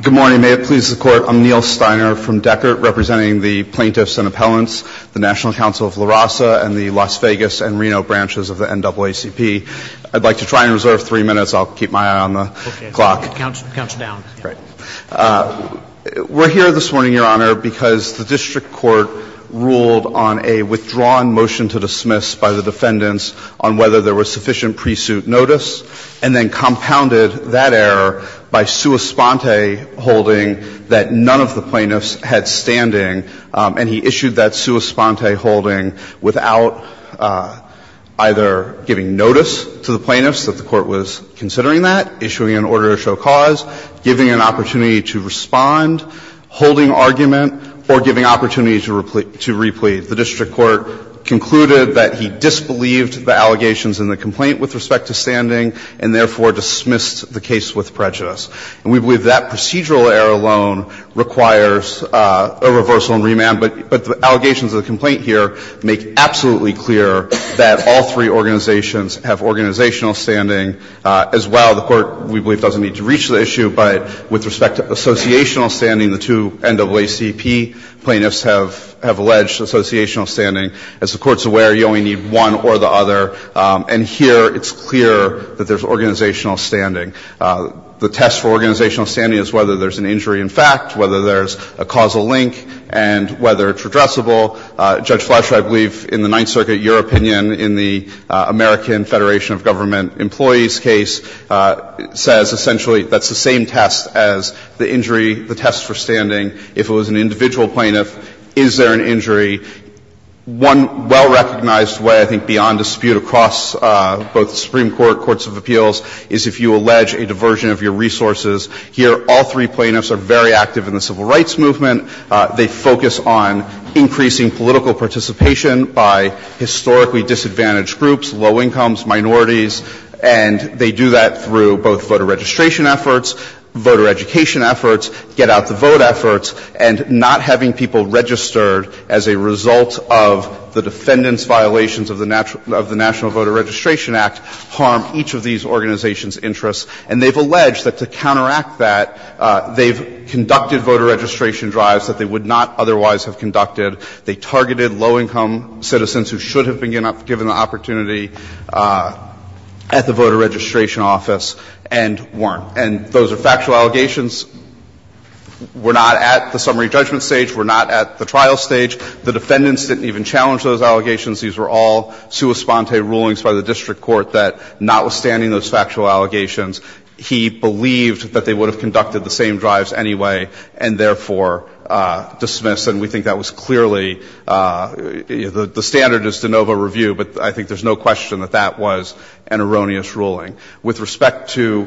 Good morning. May it please the Court, I'm Neil Steiner from Deckert, representing the Plaintiffs and Appellants, the National Council of La Raza, and the Las Vegas and Reno branches of the NAACP. I'd like to try and reserve three minutes. I'll keep my eye on the clock. Okay. It counts down. Great. We're here this morning, Your Honor, because the District Court ruled on a withdrawn motion to dismiss by the defendants on whether there was sufficient pre-suit notice, and then compounded that error by sua sponte holding that none of the plaintiffs had standing, and he issued that sua sponte holding without either giving notice to the plaintiffs that the Court was considering that, issuing an order to show cause, giving an opportunity to respond, holding argument, or giving opportunity to replete. The District Court concluded that he disbelieved the allegations in the complaint with respect to standing, and therefore dismissed the case with prejudice. And we believe that procedural error alone requires a reversal and remand, but the allegations of the complaint here make absolutely clear that all three organizations have organizational standing as well. The Court, we believe, doesn't need to reach the issue, but with respect to associational standing, the two NAACP plaintiffs have alleged associational standing. As the Court's aware, you only need one or the other, and here it's clear that there's organizational standing. The test for organizational standing is whether there's an injury in fact, whether there's a causal link, and whether it's redressable. Judge Fletcher, I believe in the Ninth Circuit, your opinion in the American Federation of Government Employees case says essentially that's the same test as the injury, the test for standing. If it was an individual plaintiff, is there an injury? One well-recognized way, I think, beyond dispute across both the Supreme Court, courts of appeals, is if you allege a diversion of your resources. Here, all three plaintiffs are very active in the civil rights movement. They focus on increasing political participation by historically disadvantaged groups, low incomes, minorities, and they do that through both voter registration efforts, voter education efforts, get-out-the-vote efforts, and not having people registered as a result of the defendant's violations of the National Voter Registration Act harm each of these organizations' interests. And they've alleged that to counteract that, they've conducted voter registration drives that they would not otherwise have conducted. They targeted low-income citizens who should have been given the opportunity at the voter registration office and weren't. And those are factual allegations. We're not at the summary judgment stage. We're not at the trial stage. The defendants didn't have the opportunity to do that. They didn't even challenge those allegations. These were all sua sponte rulings by the district court that, notwithstanding those factual allegations, he believed that they would have conducted the same drives anyway and therefore dismissed. And we think that was clearly the standardist de novo review, but I think there's no question that that was an erroneous ruling. With respect to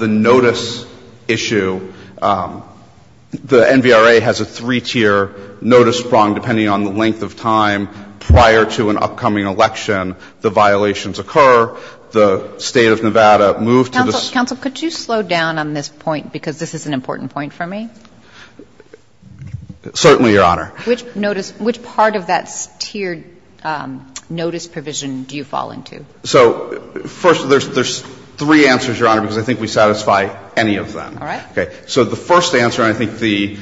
the notice issue, the NVRA has a three-tier notice prong, depending on the length of time prior to an upcoming election. The violations occur. The State of Nevada moved to the State of Nevada. Counsel, could you slow down on this point, because this is an important point for me? Certainly, Your Honor. Which notice – which part of that tiered notice provision do you fall into? So, first, there's three answers, Your Honor, because I think we satisfy any of them. All right. Okay. So the first answer, and I think the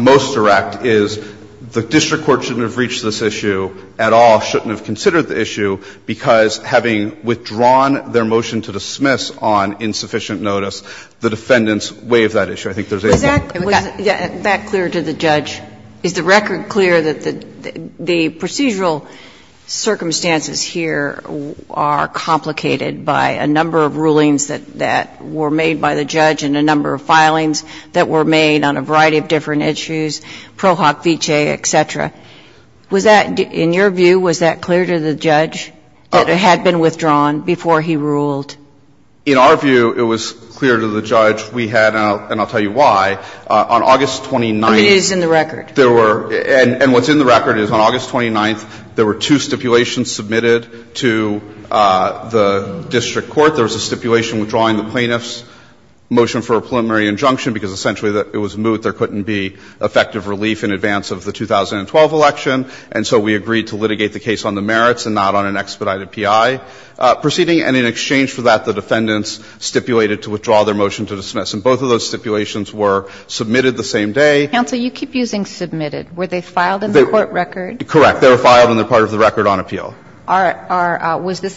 most direct, is the district court shouldn't have reached this issue at all, shouldn't have considered the issue, because having withdrawn their motion to dismiss on insufficient notice, the defendants waive that issue. I think there's a point. Was that clear to the judge? Is the record clear that the procedural circumstances here are complicated by a number of rulings that were made by the judge and a number of filings that were made on a variety of different issues, Pro Hoc Vitae, et cetera. Was that – in your view, was that clear to the judge that it had been withdrawn before he ruled? In our view, it was clear to the judge. We had – and I'll tell you why. On August 29th… It is in the record. There were – and what's in the record is on August 29th, there were two stipulations submitted to the district court. There was a stipulation withdrawing the plaintiff's motion for a preliminary injunction, because essentially it was moot, there couldn't be effective relief in advance of the 2012 election, and so we agreed to litigate the case on the merits and not on an expedited P.I. proceeding. And in exchange for that, the defendants stipulated to withdraw their motion to dismiss. And both of those stipulations were submitted the same day. Counsel, you keep using submitted. Were they filed in the court record? Correct. They were filed and they're part of the record on appeal. Correct,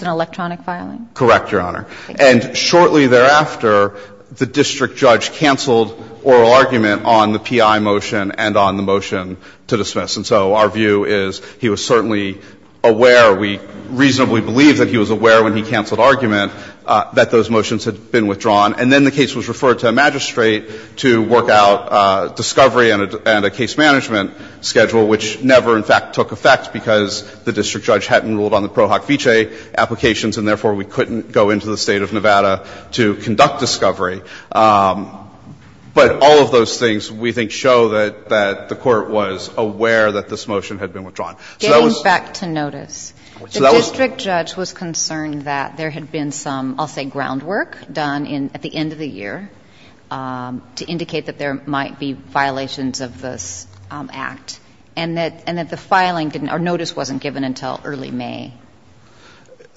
Your Honor. Thank you. And shortly thereafter, the district judge canceled oral argument on the P.I. motion and on the motion to dismiss. And so our view is he was certainly aware – we reasonably believed that he was aware when he canceled argument that those motions had been withdrawn. And then the case was referred to a magistrate to work out discovery and a case management schedule, which never, in fact, took effect because the district judge couldn't go into the State of Nevada to conduct discovery. But all of those things, we think, show that the court was aware that this motion had been withdrawn. Getting back to notice, the district judge was concerned that there had been some, I'll say, groundwork done at the end of the year to indicate that there might be violations of this act, and that the filing didn't – or notice wasn't given until early May.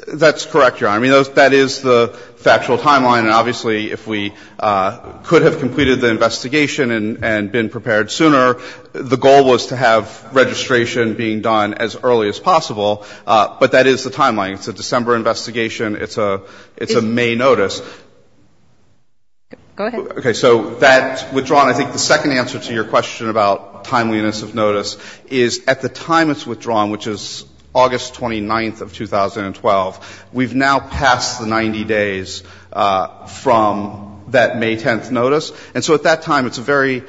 That's correct, Your Honor. I mean, that is the factual timeline. And obviously, if we could have completed the investigation and been prepared sooner, the goal was to have registration being done as early as possible. But that is the timeline. It's a December investigation. It's a May notice. Go ahead. Okay. So that's withdrawn. I think the second answer to your question about timeliness of notice is, at the time it's withdrawn, which is August 29th of 2012, we've now passed the 90 days from that May 10th notice. And so at that time, it's a very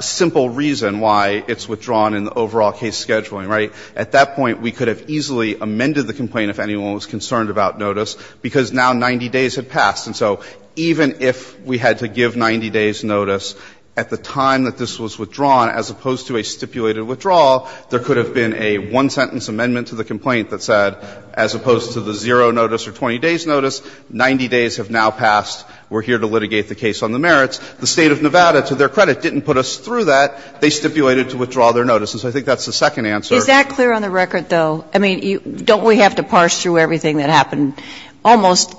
simple reason why it's withdrawn in the overall case scheduling, right? At that point, we could have easily amended the complaint if anyone was concerned about notice because now 90 days had passed. And so even if we had to give 90 days notice at the time that this was withdrawn as opposed to a stipulated withdrawal, there could have been a one-sentence amendment to the complaint that said, as opposed to the zero notice or 20 days notice, 90 days have now passed. We're here to litigate the case on the merits. The State of Nevada, to their credit, didn't put us through that. They stipulated to withdraw their notice. And so I think that's the second answer. Is that clear on the record, though? I mean, don't we have to parse through everything that happened almost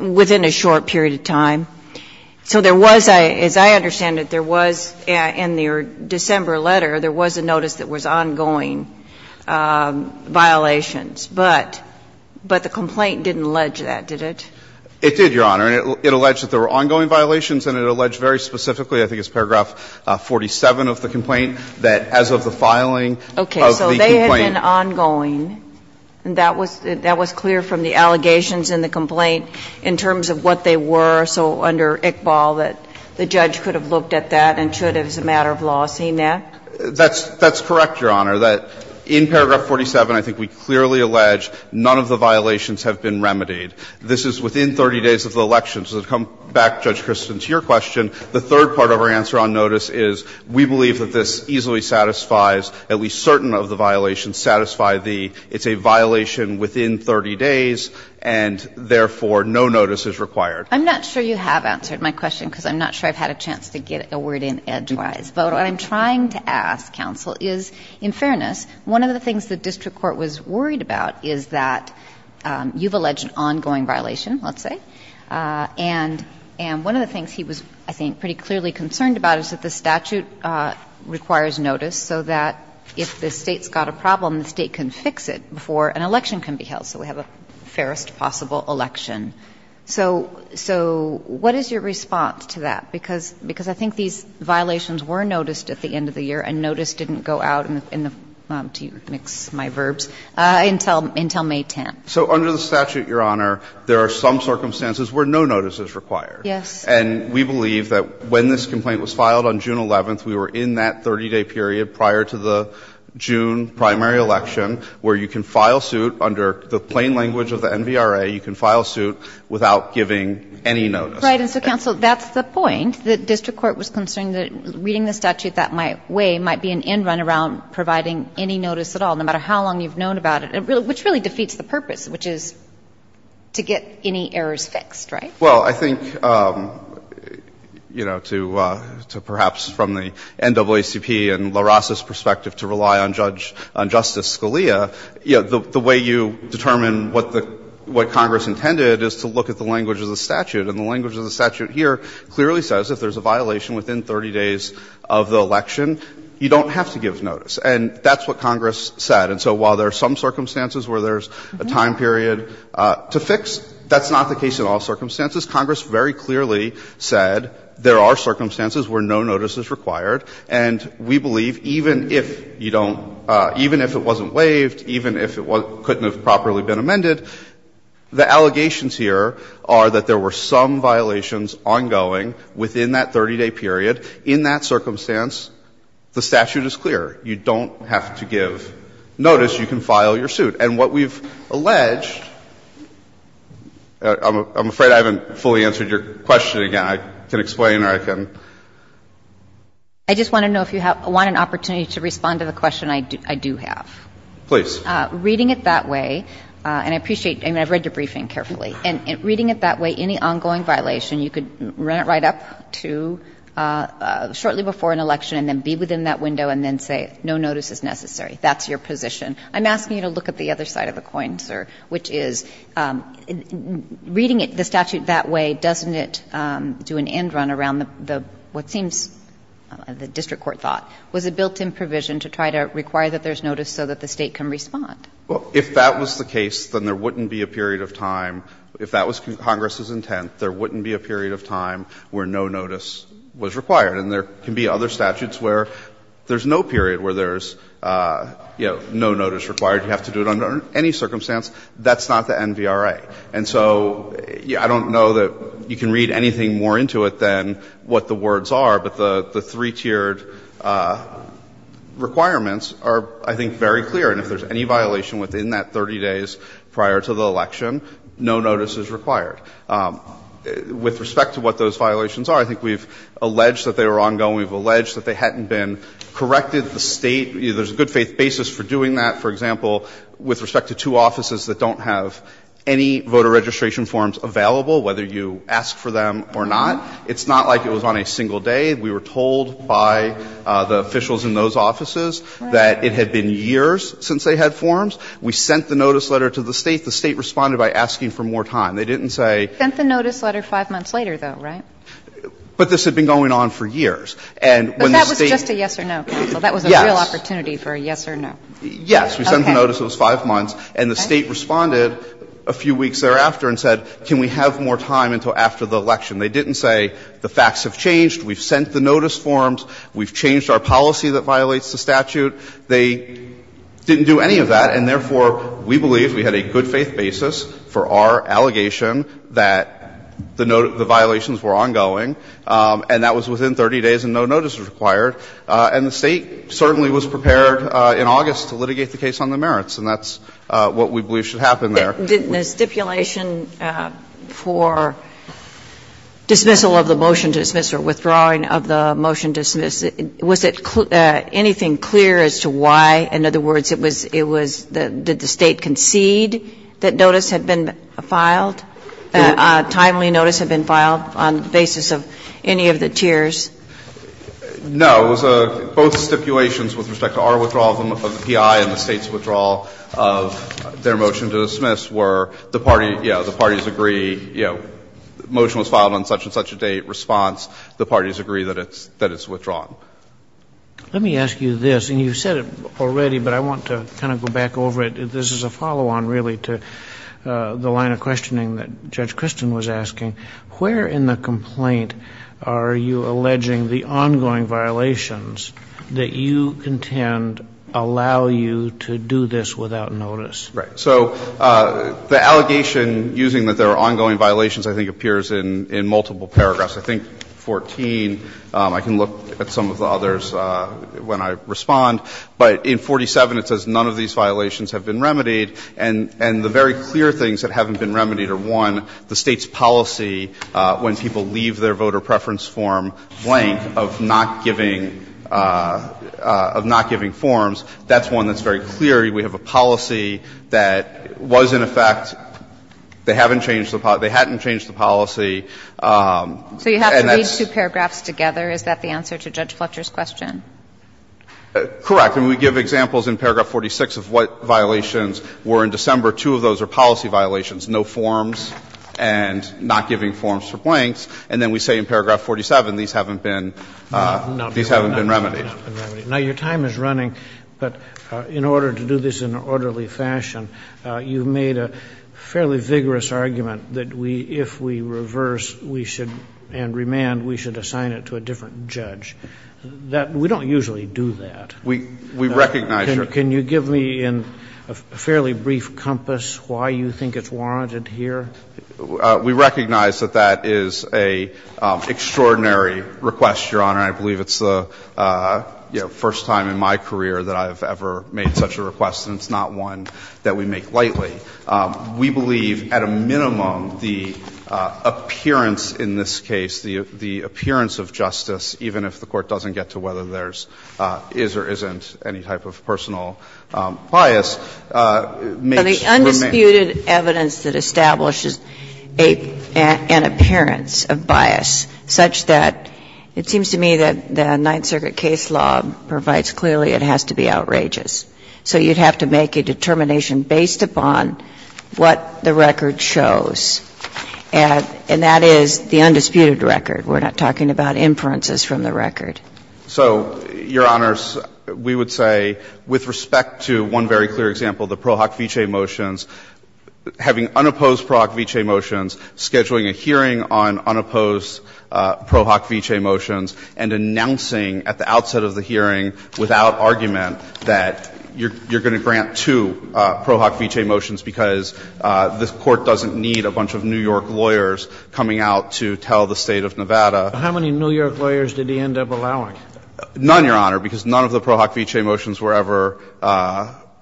within a short period of time? So there was, as I understand it, there was, in the December letter, there was a notice that was ongoing violations. But the complaint didn't allege that, did it? It did, Your Honor. And it alleged that there were ongoing violations, and it alleged very specifically, I think it's paragraph 47 of the complaint, that as of the filing of the complaint. And that was clear from the allegations in the complaint in terms of what they were. So under Iqbal, that the judge could have looked at that and should have, as a matter of law, seen that? That's correct, Your Honor. That in paragraph 47, I think we clearly allege none of the violations have been remedied. This is within 30 days of the election. So to come back, Judge Kristin, to your question, the third part of our answer on notice is we believe that this easily satisfies at least certain of the violations that we're looking at. We believe that it would satisfy the – it's a violation within 30 days, and therefore no notice is required. I'm not sure you have answered my question, because I'm not sure I've had a chance to get a word in edgewise. But what I'm trying to ask, counsel, is, in fairness, one of the things the district court was worried about is that you've alleged an ongoing violation, let's say, and one of the things he was, I think, pretty clearly concerned about is that the statute requires notice so that if the State's got a problem, the State can fix it before an election can be held, so we have a fairest possible election. So what is your response to that? Because I think these violations were noticed at the end of the year, and notice didn't go out in the – to mix my verbs – until May 10th. So under the statute, Your Honor, there are some circumstances where no notice is required. Yes. And we believe that when this complaint was filed on June 11th, we were in that 30-day period prior to the June primary election where you can file suit under the plain language of the NVRA. You can file suit without giving any notice. Right. And so, counsel, that's the point. The district court was concerned that reading the statute that way might be an end run around providing any notice at all, no matter how long you've known about it, which really defeats the purpose, which is to get any errors fixed, right? Well, I think, you know, to – to perhaps from the NAACP and LaRossa's perspective to rely on Judge – on Justice Scalia, you know, the way you determine what the – what Congress intended is to look at the language of the statute. And the language of the statute here clearly says if there's a violation within 30 days of the election, you don't have to give notice. And that's what Congress said. And so while there are circumstances, Congress very clearly said there are circumstances where no notice is required, and we believe even if you don't – even if it wasn't waived, even if it couldn't have properly been amended, the allegations here are that there were some violations ongoing within that 30-day period. In that circumstance, the statute is clear. You don't have to give notice. You can file your suit. And what we've alleged – I'm afraid I haven't – I'm afraid I haven't said this and I haven't fully answered your question again. I can explain, or I can – I just want to know if you want an opportunity to respond to the question I do have. Please. Reading it that way, and I appreciate – I mean, I've read your briefing carefully. And reading it that way, any ongoing violation, you could run it right up to shortly before an election and then be within that window and then say no notice is necessary. That's your position. I'm asking you to look at the other side of the coin, sir, which is, reading the statute that way, doesn't it do an end run around the – what seems the district court thought was a built-in provision to try to require that there's notice so that the State can respond? Well, if that was the case, then there wouldn't be a period of time – if that was Congress's intent, there wouldn't be a period of time where no notice was required. And there can be other statutes where there's no period where there's, you know, no notice required. You have to do it under any circumstance. That's not the NVRA. And so I don't know that you can read anything more into it than what the words are, but the three-tiered requirements are, I think, very clear. And if there's any violation within that 30 days prior to the election, no notice is required. With respect to what those violations are, I think we've alleged that they were ongoing. We've alleged that they hadn't been corrected. The State – there's a good-faith basis for doing that. For example, with respect to two offices that don't have any voter registration forms available, whether you ask for them or not, it's not like it was on a single day. We were told by the officials in those offices that it had been years since they had forms. We sent the notice letter to the State. The State responded by asking for more time. They didn't say – Sent the notice letter 5 months later, though, right? But this had been going on for years. And when the State – But that was just a yes or no, counsel. Yes. That was a real opportunity for a yes or no. Yes. We sent the notice. It was 5 months. And the State responded a few weeks thereafter and said, can we have more time until after the election? They didn't say the facts have changed, we've sent the notice forms, we've changed our policy that violates the statute. They didn't do any of that, and therefore, we believe we had a good-faith basis for our allegation that the violations were ongoing, and that was within 30 days and no notice was required. And the State certainly was prepared in August to litigate the case on the merits, and that's what we believe should happen there. The stipulation for dismissal of the motion to dismiss or withdrawing of the motion to dismiss, was it anything clear as to why? In other words, it was – it was – did the State concede that notice had been filed, timely notice had been filed on the basis of any of the tiers? No. It was a – both stipulations with respect to our withdrawal of the PI and the State's withdrawal of their motion to dismiss were the party – yeah, the parties agree, you know, motion was filed on such-and-such a date, response, the parties agree that it's – that it's withdrawn. Let me ask you this, and you've said it already, but I want to kind of go back over it. This is a follow-on, really, to the line of questioning that Judge Christin was asking. Where in the complaint are you alleging the ongoing violations that you contend allow you to do this without notice? Right. So the allegation using that there are ongoing violations, I think, appears in – in multiple paragraphs. I think 14, I can look at some of the others when I respond, but in 47, it says none of these violations have been remedied, and – and the very clear things that haven't been remedied are, one, the State's policy when people leave their voter preference form blank of not giving – of not giving forms. That's one that's very clear. We have a policy that was in effect. They haven't changed the – they hadn't changed the policy, and that's – So you have to read two paragraphs together. Is that the answer to Judge Fletcher's question? Correct. And we give examples in paragraph 46 of what violations were in December. Two of those are policy violations. No forms and not giving forms for blanks, and then we say in paragraph 47, these haven't been – these haven't been remedied. Now, your time is running, but in order to do this in an orderly fashion, you've made a fairly vigorous argument that we – if we reverse, we should – and remand, we should assign it to a different judge. That – we don't usually do that. We – we recognize your – We recognize that that is an extraordinary request, Your Honor, and I believe it's the first time in my career that I have ever made such a request, and it's not one that we make lightly. We believe, at a minimum, the appearance in this case, the appearance of justice, even if the Court doesn't get to whether there's – is or isn't any type of personal bias, makes remand. So the undisputed evidence that establishes a – an appearance of bias such that it seems to me that the Ninth Circuit case law provides clearly it has to be outrageous. So you'd have to make a determination based upon what the record shows, and that is the undisputed record. We're not talking about inferences from the record. So, Your Honors, we would say with respect to one very clear example, the Pro Hoc Vitae motions, having unopposed Pro Hoc Vitae motions, scheduling a hearing on unopposed Pro Hoc Vitae motions, and announcing at the outset of the hearing without argument that you're going to grant two Pro Hoc Vitae motions because this Court doesn't need a bunch of New York lawyers coming out to tell the State of Nevada. How many New York lawyers did he end up allowing? None, Your Honor, because none of the Pro Hoc Vitae motions were ever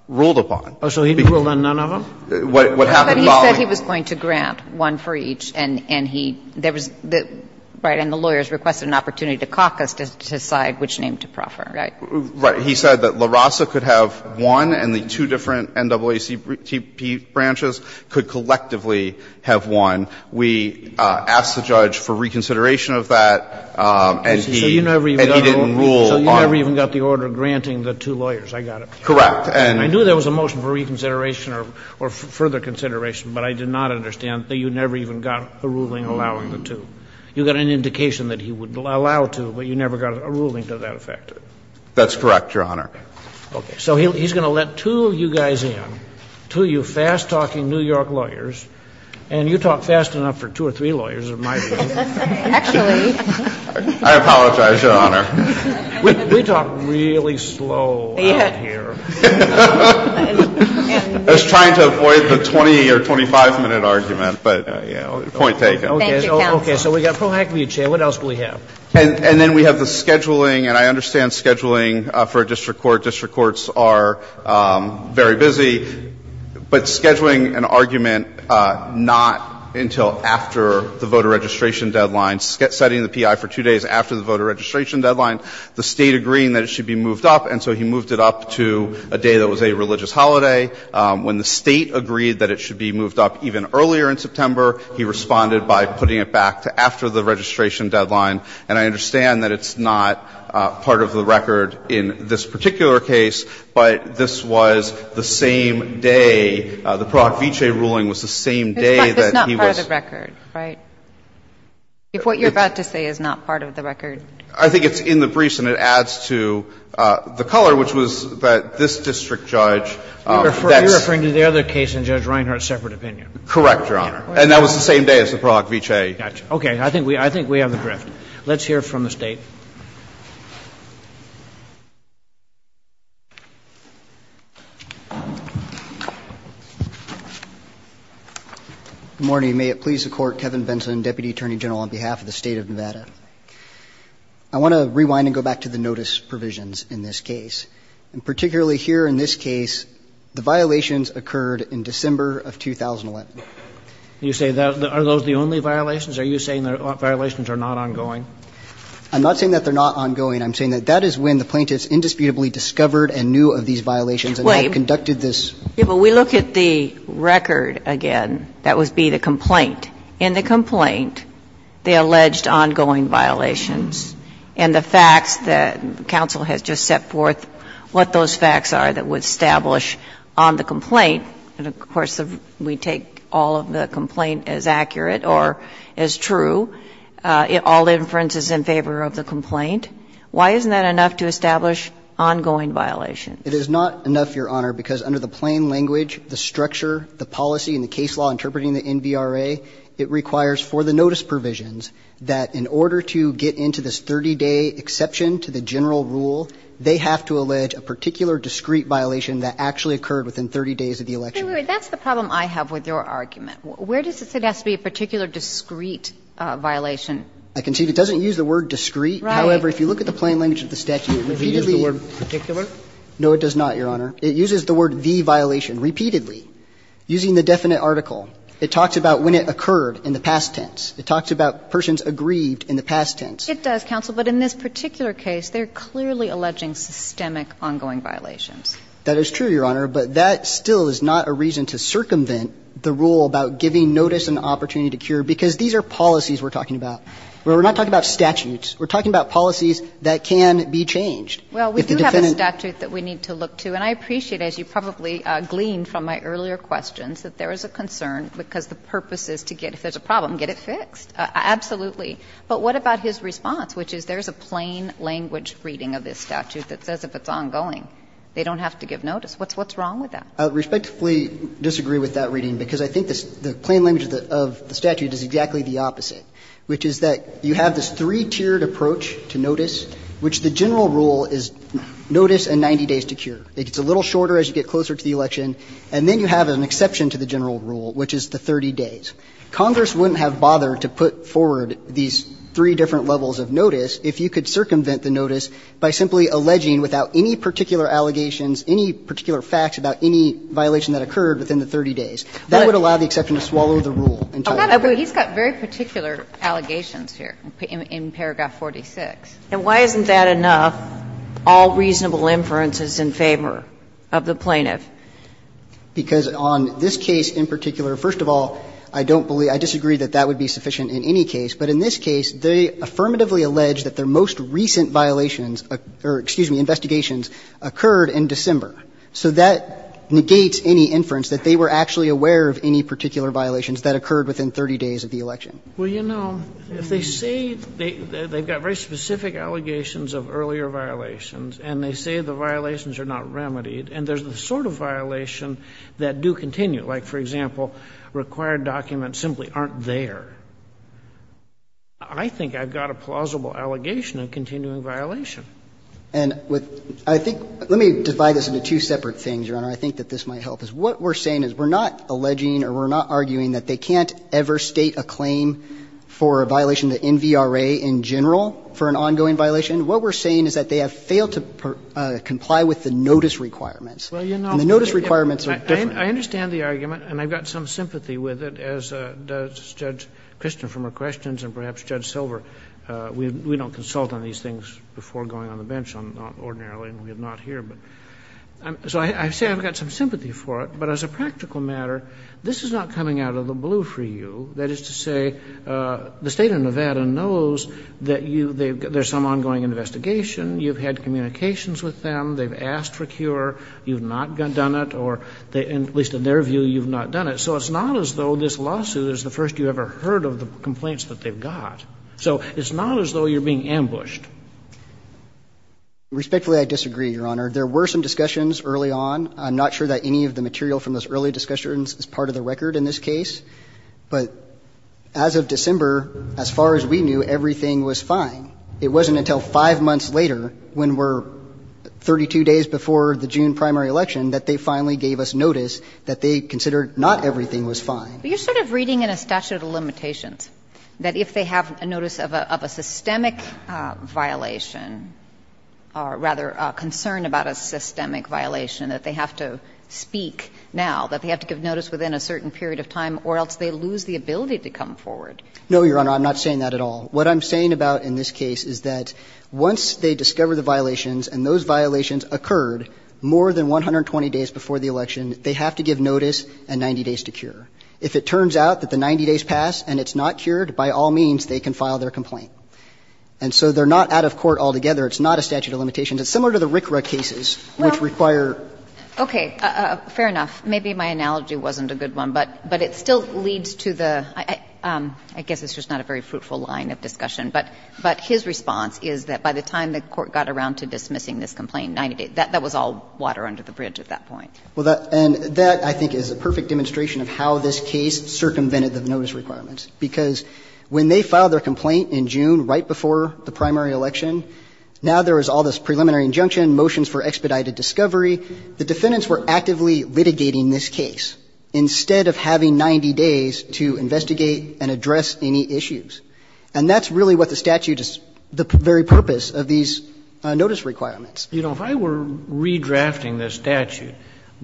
ruled upon. Oh, so he didn't rule on none of them? What happened following the hearing? But he said he was going to grant one for each, and he – there was the – right? And the lawyers requested an opportunity to caucus to decide which name to proffer, right? Right. He said that La Raza could have one and the two different NAACP branches could collectively have one. We asked the judge for reconsideration of that, and he didn't rule on it. So you never even got the order granting the two lawyers. I got it. Correct. And I knew there was a motion for reconsideration or further consideration, but I did not understand that you never even got a ruling allowing the two. You got an indication that he would allow two, but you never got a ruling to that effect. That's correct, Your Honor. Okay. So he's going to let two of you guys in, two of you fast-talking New York lawyers, and you talk fast enough for two or three lawyers, in my view. Actually, I apologize, Your Honor. We talk really slow out here. I was trying to avoid the 20 or 25-minute argument, but, you know, point taken. Thank you, counsel. Okay. So we've got pro hac via chair. What else do we have? And then we have the scheduling, and I understand scheduling for a district court. District courts are very busy, but scheduling an argument not until after the voter registration deadline, setting the P.I. for two days after the voter registration deadline, the State agreeing that it should be moved up, and so he moved it up to a day that was a religious holiday. When the State agreed that it should be moved up even earlier in September, he responded by putting it back to after the registration deadline. And I understand that it's not part of the record in this particular case, but this was the same day, the pro hac via chair ruling was the same day that he was ---- It's not part of the record, right? If what you're about to say is not part of the record. I think it's in the briefs and it adds to the color, which was that this district judge ---- You're referring to the other case in Judge Reinhart's separate opinion. Correct, Your Honor. And that was the same day as the pro hac via chair. Okay. I think we have the drift. Let's hear from the State. Good morning. Kevin Benson, Deputy Attorney General on behalf of the State of Nevada. I want to rewind and go back to the notice provisions in this case. And particularly here in this case, the violations occurred in December of 2011. You say that are those the only violations? Are you saying the violations are not ongoing? I'm not saying that they're not ongoing. I'm saying that that is when the plaintiffs indisputably discovered and knew of these violations and had conducted this. Wait. Yeah, but we look at the record again. That would be the complaint. In the complaint, they alleged ongoing violations. And the facts that counsel has just set forth what those facts are that would establish on the complaint, and of course, we take all of the complaint as accurate or as true, all inferences in favor of the complaint. Why isn't that enough to establish ongoing violations? It is not enough, Your Honor, because under the plain language, the structure, the policy, and the case law interpreting the NVRA, it requires for the notice provisions that in order to get into this 30-day exception to the general rule, they have to allege a particular discrete violation that actually occurred within 30 days of the election. Wait, wait, that's the problem I have with your argument. Where does it say it has to be a particular discrete violation? I concede it doesn't use the word discrete. Right. However, if you look at the plain language of the statute, it repeatedly uses the word particular. No, it does not, Your Honor. It uses the word the violation repeatedly. Using the definite article, it talks about when it occurred in the past tense. It talks about persons aggrieved in the past tense. It does, counsel, but in this particular case, they are clearly alleging systemic ongoing violations. That is true, Your Honor, but that still is not a reason to circumvent the rule about giving notice an opportunity to cure, because these are policies we're talking about. We're not talking about statutes. We're talking about policies that can be changed. Well, we do have a statute that we need to look to, and I appreciate, as you probably gleaned from my earlier questions, that there is a concern because the purpose is to get, if there's a problem, get it fixed. Absolutely. But what about his response, which is there's a plain language reading of this statute that says if it's ongoing, they don't have to give notice. What's wrong with that? I respectfully disagree with that reading, because I think the plain language of the statute is exactly the opposite, which is that you have this three-tiered approach to notice, which the general rule is notice and 90 days to cure. It gets a little shorter as you get closer to the election, and then you have an exception to the general rule, which is the 30 days. Congress wouldn't have bothered to put forward these three different levels of notice if you could circumvent the notice by simply alleging without any particular allegations, any particular facts about any violation that occurred within the 30 days. That would allow the exception to swallow the rule entirely. But he's got very particular allegations here in paragraph 46. And why isn't that enough, all reasonable inferences in favor of the plaintiff? Because on this case in particular, first of all, I don't believe or disagree that that would be sufficient in any case. But in this case, they affirmatively allege that their most recent violations or, excuse me, investigations occurred in December. So that negates any inference that they were actually aware of any particular violations that occurred within 30 days of the election. Well, you know, if they say they've got very specific allegations of earlier violations, and they say the violations are not remedied, and there's the sort of violation that do continue, like, for example, required documents simply aren't there, I think I've got a plausible allegation of continuing violation. And with – I think – let me divide this into two separate things, Your Honor. I think that this might help us. What we're saying is we're not alleging or we're not arguing that they can't ever state a claim for a violation to NVRA in general for an ongoing violation. What we're saying is that they have failed to comply with the notice requirements. And the notice requirements are different. I understand the argument, and I've got some sympathy with it, as does Judge Christian from her questions and perhaps Judge Silver. We don't consult on these things before going on the bench ordinarily, and we have not here. So I say I've got some sympathy for it, but as a practical matter, this is not coming out of the blue for you, that is to say the State of Nevada knows that you – there's some ongoing investigation, you've had communications with them, they've asked for a cure, you've not done it, or at least in their view, you've not done it. So it's not as though this lawsuit is the first you ever heard of the complaints that they've got. So it's not as though you're being ambushed. Respectfully, I disagree, Your Honor. There were some discussions early on. I'm not sure that any of the material from those early discussions is part of the record in this case. But as of December, as far as we knew, everything was fine. It wasn't until five months later, when we're 32 days before the June primary election, that they finally gave us notice that they considered not everything was fine. But you're sort of reading in a statute of limitations that if they have a notice of a systemic violation, or rather a concern about a systemic violation, that they have to speak now, that they have to give notice within a certain period of time, or else they lose the ability to come forward. No, Your Honor, I'm not saying that at all. What I'm saying about in this case is that once they discover the violations and those violations occurred more than 120 days before the election, they have to give notice and 90 days to cure. If it turns out that the 90 days pass and it's not cured, by all means, they can file their complaint. It's not a statute of limitations. It's similar to the RCRA cases, which require. Well, okay, fair enough. Maybe my analogy wasn't a good one, but it still leads to the – I guess it's just not a very fruitful line of discussion, but his response is that by the time the Court got around to dismissing this complaint, 90 days, that was all water under the bridge at that point. Well, and that, I think, is a perfect demonstration of how this case circumvented the notice requirements, because when they filed their complaint in June right before the primary election, now there is all this preliminary injunction, motions for expedited discovery. The defendants were actively litigating this case instead of having 90 days to investigate and address any issues. And that's really what the statute is – the very purpose of these notice requirements. You know, if I were redrafting this statute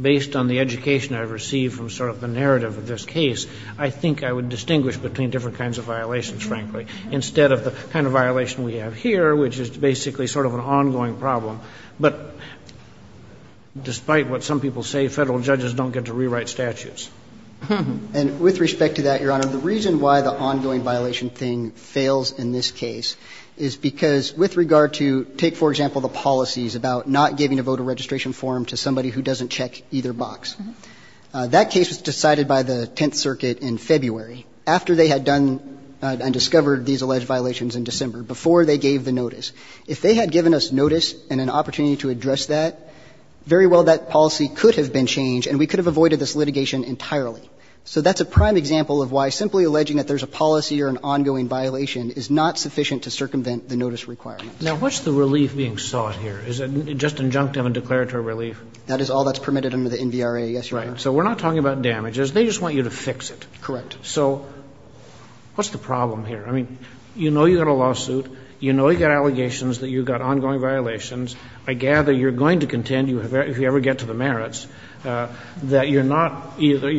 based on the education I've received from sort of the narrative of this case, I think I would distinguish between different kinds of violations, frankly, instead of the kind of violation we have here, which is basically sort of an ongoing problem. But despite what some people say, Federal judges don't get to rewrite statutes. And with respect to that, Your Honor, the reason why the ongoing violation thing fails in this case is because with regard to – take, for example, the policies about not giving a voter registration form to somebody who doesn't check either box. That case was decided by the Tenth Circuit in February. After they had done and discovered these alleged violations in December, before they gave the notice. If they had given us notice and an opportunity to address that, very well that policy could have been changed and we could have avoided this litigation entirely. So that's a prime example of why simply alleging that there's a policy or an ongoing violation is not sufficient to circumvent the notice requirements. Roberts. Now, what's the relief being sought here? Is it just injunctive and declaratory relief? That is all that's permitted under the NVRA, yes, Your Honor. Right. So we're not talking about damages. They just want you to fix it. Correct. So what's the problem here? I mean, you know you've got a lawsuit. You know you've got allegations that you've got ongoing violations. I gather you're going to contend, if you ever get to the merits, that you're not – either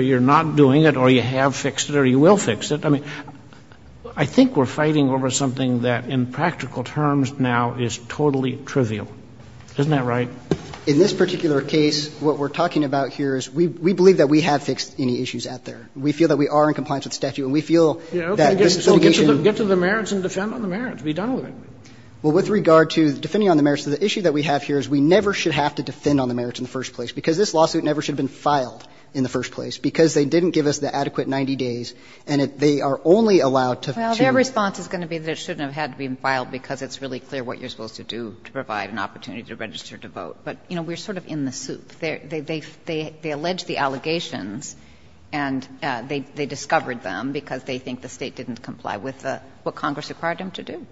you're not doing it or you have fixed it or you will fix it. I mean, I think we're fighting over something that in practical terms now is totally trivial. Isn't that right? In this particular case, what we're talking about here is we believe that we have fixed any issues out there. We feel that we are in compliance with the statute, and we feel that this litigation So get to the merits and defend on the merits. Be done with it. Well, with regard to defending on the merits, the issue that we have here is we never should have to defend on the merits in the first place, because this lawsuit never should have been filed in the first place, because they didn't give us the adequate 90 days, and they are only allowed to Well, their response is going to be that it shouldn't have had to be filed because it's really clear what you're supposed to do to provide an opportunity to register to vote. But, you know, we're sort of in the soup. They allege the allegations, and they discovered them because they think the State didn't comply with what Congress required them to do.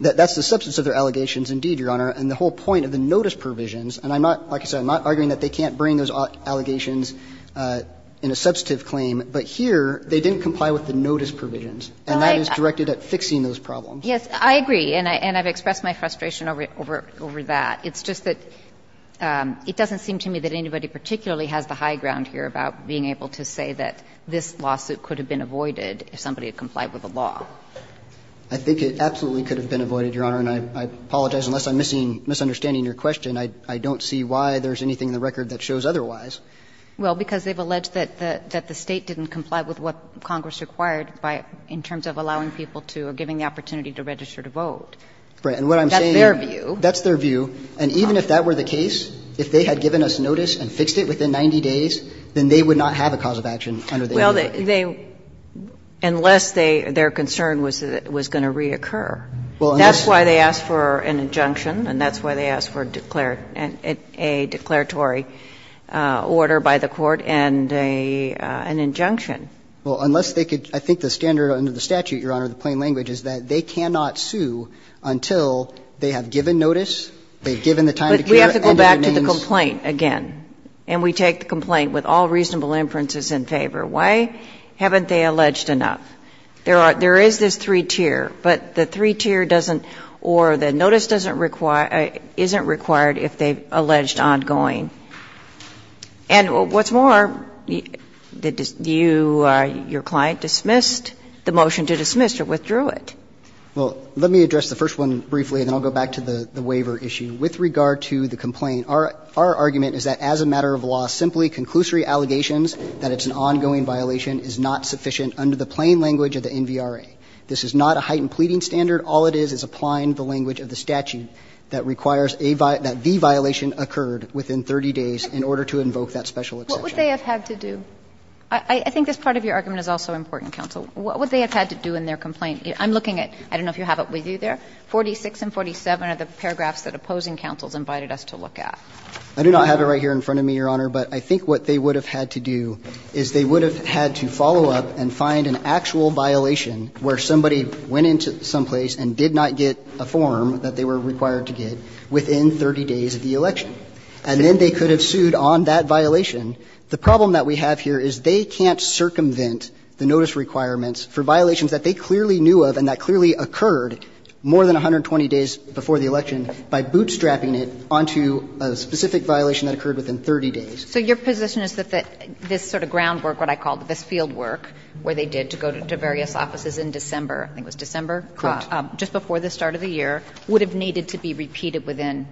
That's the substance of their allegations, indeed, Your Honor, and the whole point of the notice provisions. And I'm not, like I said, I'm not arguing that they can't bring those allegations in a substantive claim. But here, they didn't comply with the notice provisions, and that is directed at fixing those problems. Yes, I agree, and I've expressed my frustration over that. It's just that it doesn't seem to me that anybody particularly has the high ground here about being able to say that this lawsuit could have been avoided if somebody had complied with the law. I think it absolutely could have been avoided, Your Honor, and I apologize, unless I'm missing, misunderstanding your question, I don't see why there's anything in the record that shows otherwise. Well, because they've alleged that the State didn't comply with what Congress required by, in terms of allowing people to, or giving the opportunity to register to vote. That's their view. And even if that were the case, if they had given us notice and fixed it within 90 days, then they would not have a cause of action under the AEDA. Well, they, unless they, their concern was that it was going to reoccur. Well, unless. That's why they asked for an injunction, and that's why they asked for a declaratory order by the Court and an injunction. Well, unless they could, I think the standard under the statute, Your Honor, the plain law, cannot sue until they have given notice, they've given the time to cure, and But we have to go back to the complaint again, and we take the complaint with all reasonable inferences in favor. Why haven't they alleged enough? There are, there is this three-tier, but the three-tier doesn't, or the notice doesn't require, isn't required if they've alleged ongoing. And what's more, you, your client dismissed the motion to dismiss or withdrew it. Well, let me address the first one briefly, and then I'll go back to the waiver issue. With regard to the complaint, our argument is that as a matter of law, simply conclusory allegations that it's an ongoing violation is not sufficient under the plain language of the NVRA. This is not a heightened pleading standard. All it is is applying the language of the statute that requires a, that the violation occurred within 30 days in order to invoke that special exception. What would they have had to do? I think this part of your argument is also important, counsel. What would they have had to do in their complaint? I'm looking at, I don't know if you have it with you there, 46 and 47 are the paragraphs that opposing counsels invited us to look at. I do not have it right here in front of me, Your Honor, but I think what they would have had to do is they would have had to follow up and find an actual violation where somebody went into someplace and did not get a form that they were required to get within 30 days of the election. And then they could have sued on that violation. The problem that we have here is they can't circumvent the notice requirements for violations that they clearly knew of and that clearly occurred more than 120 days before the election by bootstrapping it onto a specific violation that occurred within 30 days. So your position is that this sort of groundwork, what I call this fieldwork, where they did to go to various offices in December, I think it was December, just before the start of the year, would have needed to be repeated within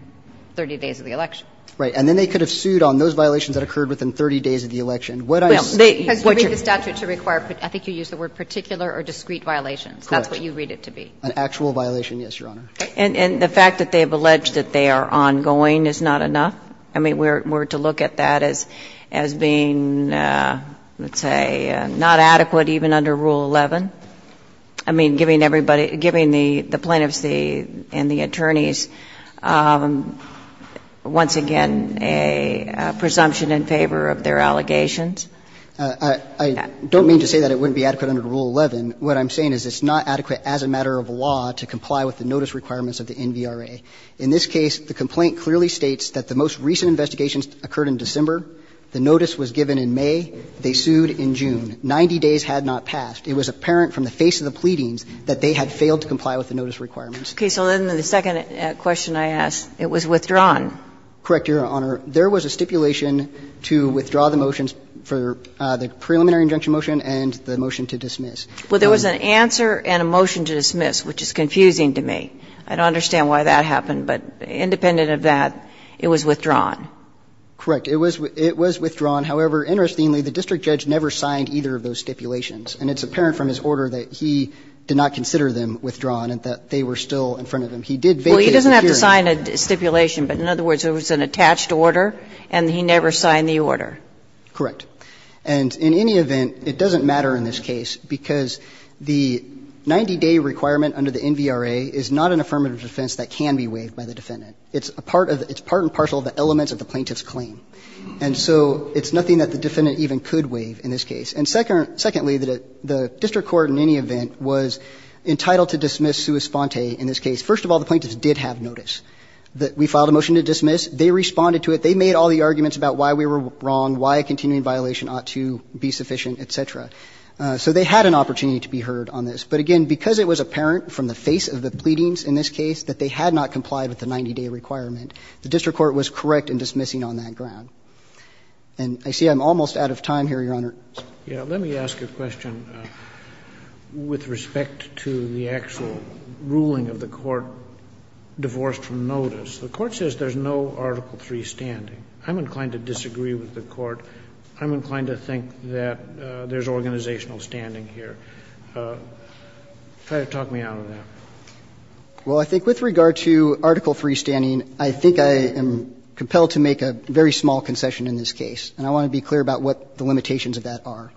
30 days of the election? Right. And then they could have sued on those violations that occurred within 30 days of the election. What I say is what you're saying. It's not a particular or discrete violation. Correct. That's what you read it to be. An actual violation, yes, Your Honor. And the fact that they have alleged that they are ongoing is not enough? I mean, were to look at that as being, let's say, not adequate even under Rule 11? I mean, giving everybody – giving the plaintiffs and the attorneys, once again, a presumption in favor of their allegations? I don't mean to say that it wouldn't be adequate under Rule 11. What I'm saying is it's not adequate as a matter of law to comply with the notice requirements of the NVRA. In this case, the complaint clearly states that the most recent investigations occurred in December. The notice was given in May. They sued in June. 90 days had not passed. It was apparent from the face of the pleadings that they had failed to comply with the notice requirements. Okay. So then the second question I ask, it was withdrawn. Correct, Your Honor. There was a stipulation to withdraw the motions for the preliminary injunction motion and the motion to dismiss. Well, there was an answer and a motion to dismiss, which is confusing to me. I don't understand why that happened, but independent of that, it was withdrawn. Correct. It was withdrawn. However, interestingly, the district judge never signed either of those stipulations, and it's apparent from his order that he did not consider them withdrawn and that they were still in front of him. He did vacate the hearing. Well, he doesn't have to sign a stipulation, but in other words, there was an attached order and he never signed the order. Correct. And in any event, it doesn't matter in this case because the 90-day requirement under the NVRA is not an affirmative defense that can be waived by the defendant. It's a part of the – it's part and parcel of the elements of the plaintiff's claim. And so it's nothing that the defendant even could waive in this case. And secondly, the district court in any event was entitled to dismiss sua sponte in this case. First of all, the plaintiffs did have notice that we filed a motion to dismiss. They responded to it. They made all the arguments about why we were wrong, why a continuing violation ought to be sufficient, et cetera. So they had an opportunity to be heard on this. But again, because it was apparent from the face of the pleadings in this case that they had not complied with the 90-day requirement, the district court was correct in dismissing on that ground. And I see I'm almost out of time here, Your Honor. Roberts. Let me ask a question with respect to the actual ruling of the court, divorced from notice. The court says there's no Article III standing. I'm inclined to disagree with the court. I'm inclined to think that there's organizational standing here. Try to talk me out of that. Well, I think with regard to Article III standing, I think I am compelled to make a very small concession in this case. And I want to be clear about what the limitations of that are.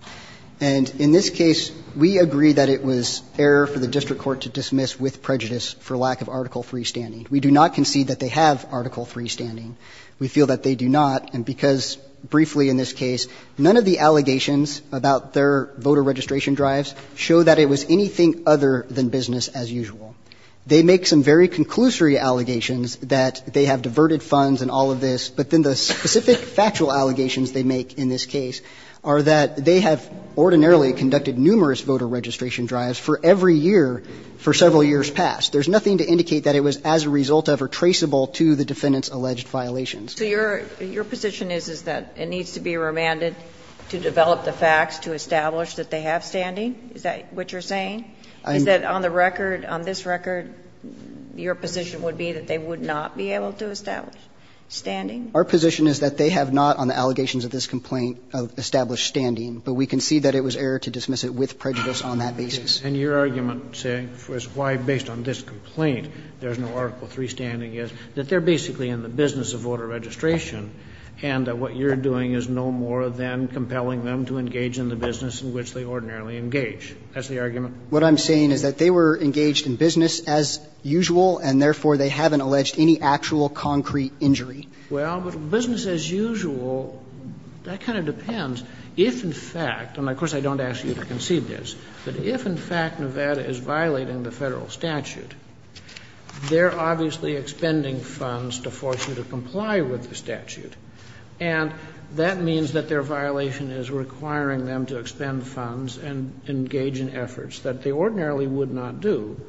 And in this case, we agree that it was error for the district court to dismiss with prejudice for lack of Article III standing. We do not concede that they have Article III standing. We feel that they do not, and because briefly in this case, none of the allegations about their voter registration drives show that it was anything other than business as usual. They make some very conclusory allegations that they have diverted funds and all of this, but then the specific factual allegations they make in this case are that they have ordinarily conducted numerous voter registration drives for every year for several years past. There's nothing to indicate that it was as a result of or traceable to the defendant's alleged violations. So your position is, is that it needs to be remanded to develop the facts to establish that they have standing? Is that what you're saying? Is that on the record, on this record, your position would be that they would not be able to establish standing? Our position is that they have not, on the allegations of this complaint, established standing, but we concede that it was error to dismiss it with prejudice on that basis. And your argument, saying, is why, based on this complaint, there's no Article III standing, is that they're basically in the business of voter registration and that what you're doing is no more than compelling them to engage in the business in which they ordinarily engage. That's the argument? What I'm saying is that they were engaged in business as usual, and therefore they haven't alleged any actual concrete injury. Well, but business as usual, that kind of depends. If in fact, and of course I don't ask you to concede this, but if in fact Nevada is violating the Federal statute, they're obviously expending funds to force you to comply with the statute, and that means that their violation is requiring them to expend funds and engage in efforts that they ordinarily would not do,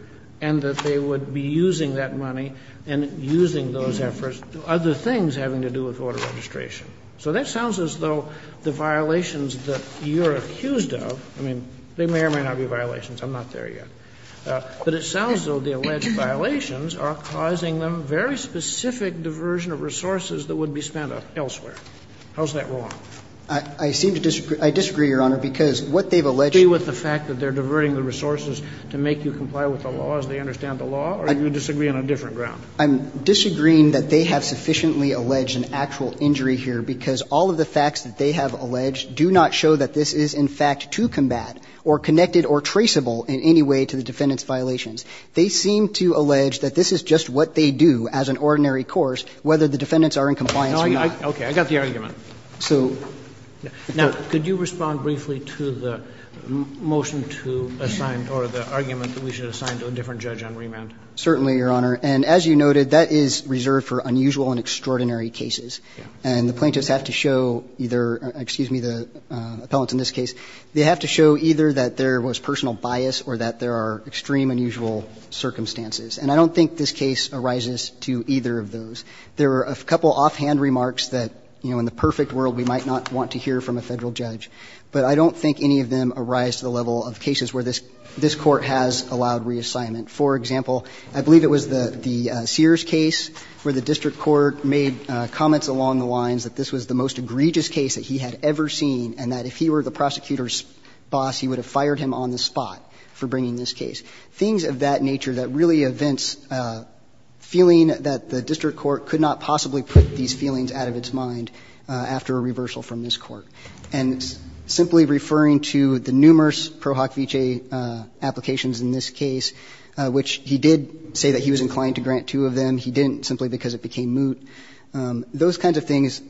and that they would be using that money and using those efforts to do other things having to do with voter registration. So that sounds as though the violations that you're accused of, I mean, they may or may not be violations, I'm not there yet, but it sounds as though the alleged violations are causing them very specific diversion of resources that would be spent elsewhere. How is that wrong? I seem to disagree. I disagree, Your Honor, because what they've alleged to be with the fact that they're violating the law, or do you disagree on a different ground? I'm disagreeing that they have sufficiently alleged an actual injury here, because all of the facts that they have alleged do not show that this is, in fact, to combat or connected or traceable in any way to the defendant's violations. They seem to allege that this is just what they do as an ordinary course, whether the defendants are in compliance or not. Okay. I got the argument. So now could you respond briefly to the motion to assign or the argument that we should assign to a different judge on remand? Certainly, Your Honor. And as you noted, that is reserved for unusual and extraordinary cases. And the plaintiffs have to show either – excuse me, the appellants in this case. They have to show either that there was personal bias or that there are extreme unusual circumstances. And I don't think this case arises to either of those. There are a couple offhand remarks that, you know, in the perfect world we might not want to hear from a Federal judge, but I don't think any of them arise to the assignment. For example, I believe it was the Sears case where the district court made comments along the lines that this was the most egregious case that he had ever seen and that if he were the prosecutor's boss, he would have fired him on the spot for bringing this case. Things of that nature that really evince a feeling that the district court could not possibly put these feelings out of its mind after a reversal from this court. And simply referring to the numerous Pro Hoc Vitae applications in this case, I think the judge was inclined to grant two of them. He didn't simply because it became moot. Those kinds of things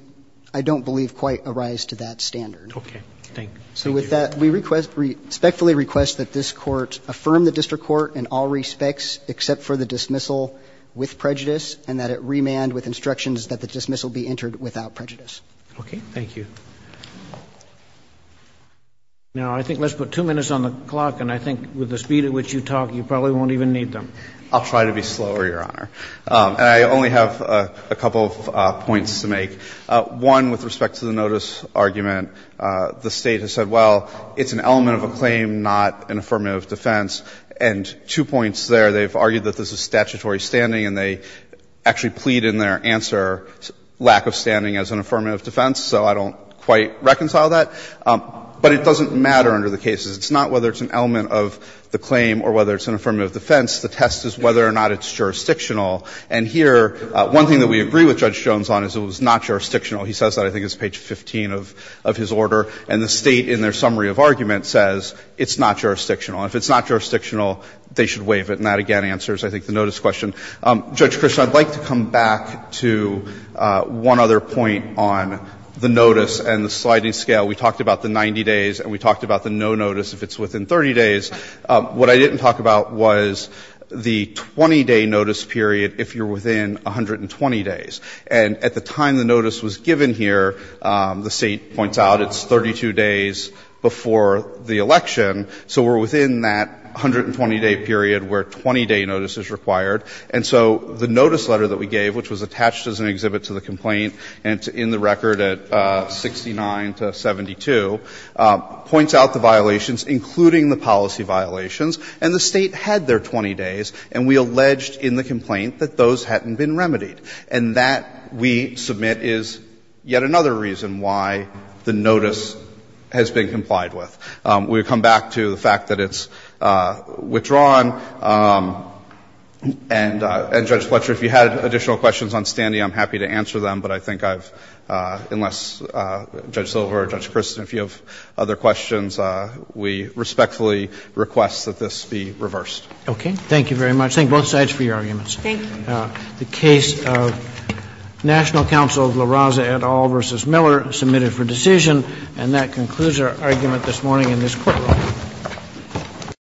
I don't believe quite arise to that standard. Roberts. Okay. Thank you. So with that, we respectfully request that this court affirm the district court in all respects except for the dismissal with prejudice and that it remand with instructions that the dismissal be entered without prejudice. Okay. Thank you. Now, I think let's put two minutes on the clock, and I think with the speed at which you talk, you probably won't even need them. I'll try to be slower, Your Honor. And I only have a couple of points to make. One, with respect to the notice argument, the State has said, well, it's an element of a claim, not an affirmative defense. And two points there, they've argued that this is statutory standing, and they actually plead in their answer lack of standing as an affirmative defense, so I don't quite reconcile that. But it doesn't matter under the cases. It's not whether it's an element of the claim or whether it's an affirmative defense. The test is whether or not it's jurisdictional. And here, one thing that we agree with Judge Jones on is it was not jurisdictional. He says that, I think it's page 15 of his order. And the State, in their summary of argument, says it's not jurisdictional. And if it's not jurisdictional, they should waive it. And that again answers, I think, the notice question. Judge Krishnan, I'd like to come back to one other point on the notice and the sliding scale. We talked about the 90 days and we talked about the no notice if it's within 30 days. What I didn't talk about was the 20-day notice period if you're within 120 days. And at the time the notice was given here, the State points out it's 32 days before the election, so we're within that 120-day period where 20-day notice is required. And so the notice letter that we gave, which was attached as an exhibit to the complaint and it's in the record at 69 to 72, points out the violations, including the policy violations, and the State had their 20 days, and we alleged in the complaint that those hadn't been remedied. And that, we submit, is yet another reason why the notice has been complied with. We come back to the fact that it's withdrawn. And, Judge Fletcher, if you had additional questions on Standy, I'm happy to answer them, but I think I've, unless Judge Silver or Judge Christen, if you have other questions, we respectfully request that this be reversed. Roberts. Okay. Thank you very much. Thank both sides for your arguments. Thank you. The case of National Council of LaRosa et al. v. Miller submitted for decision. And that concludes our argument this morning in this courtroom.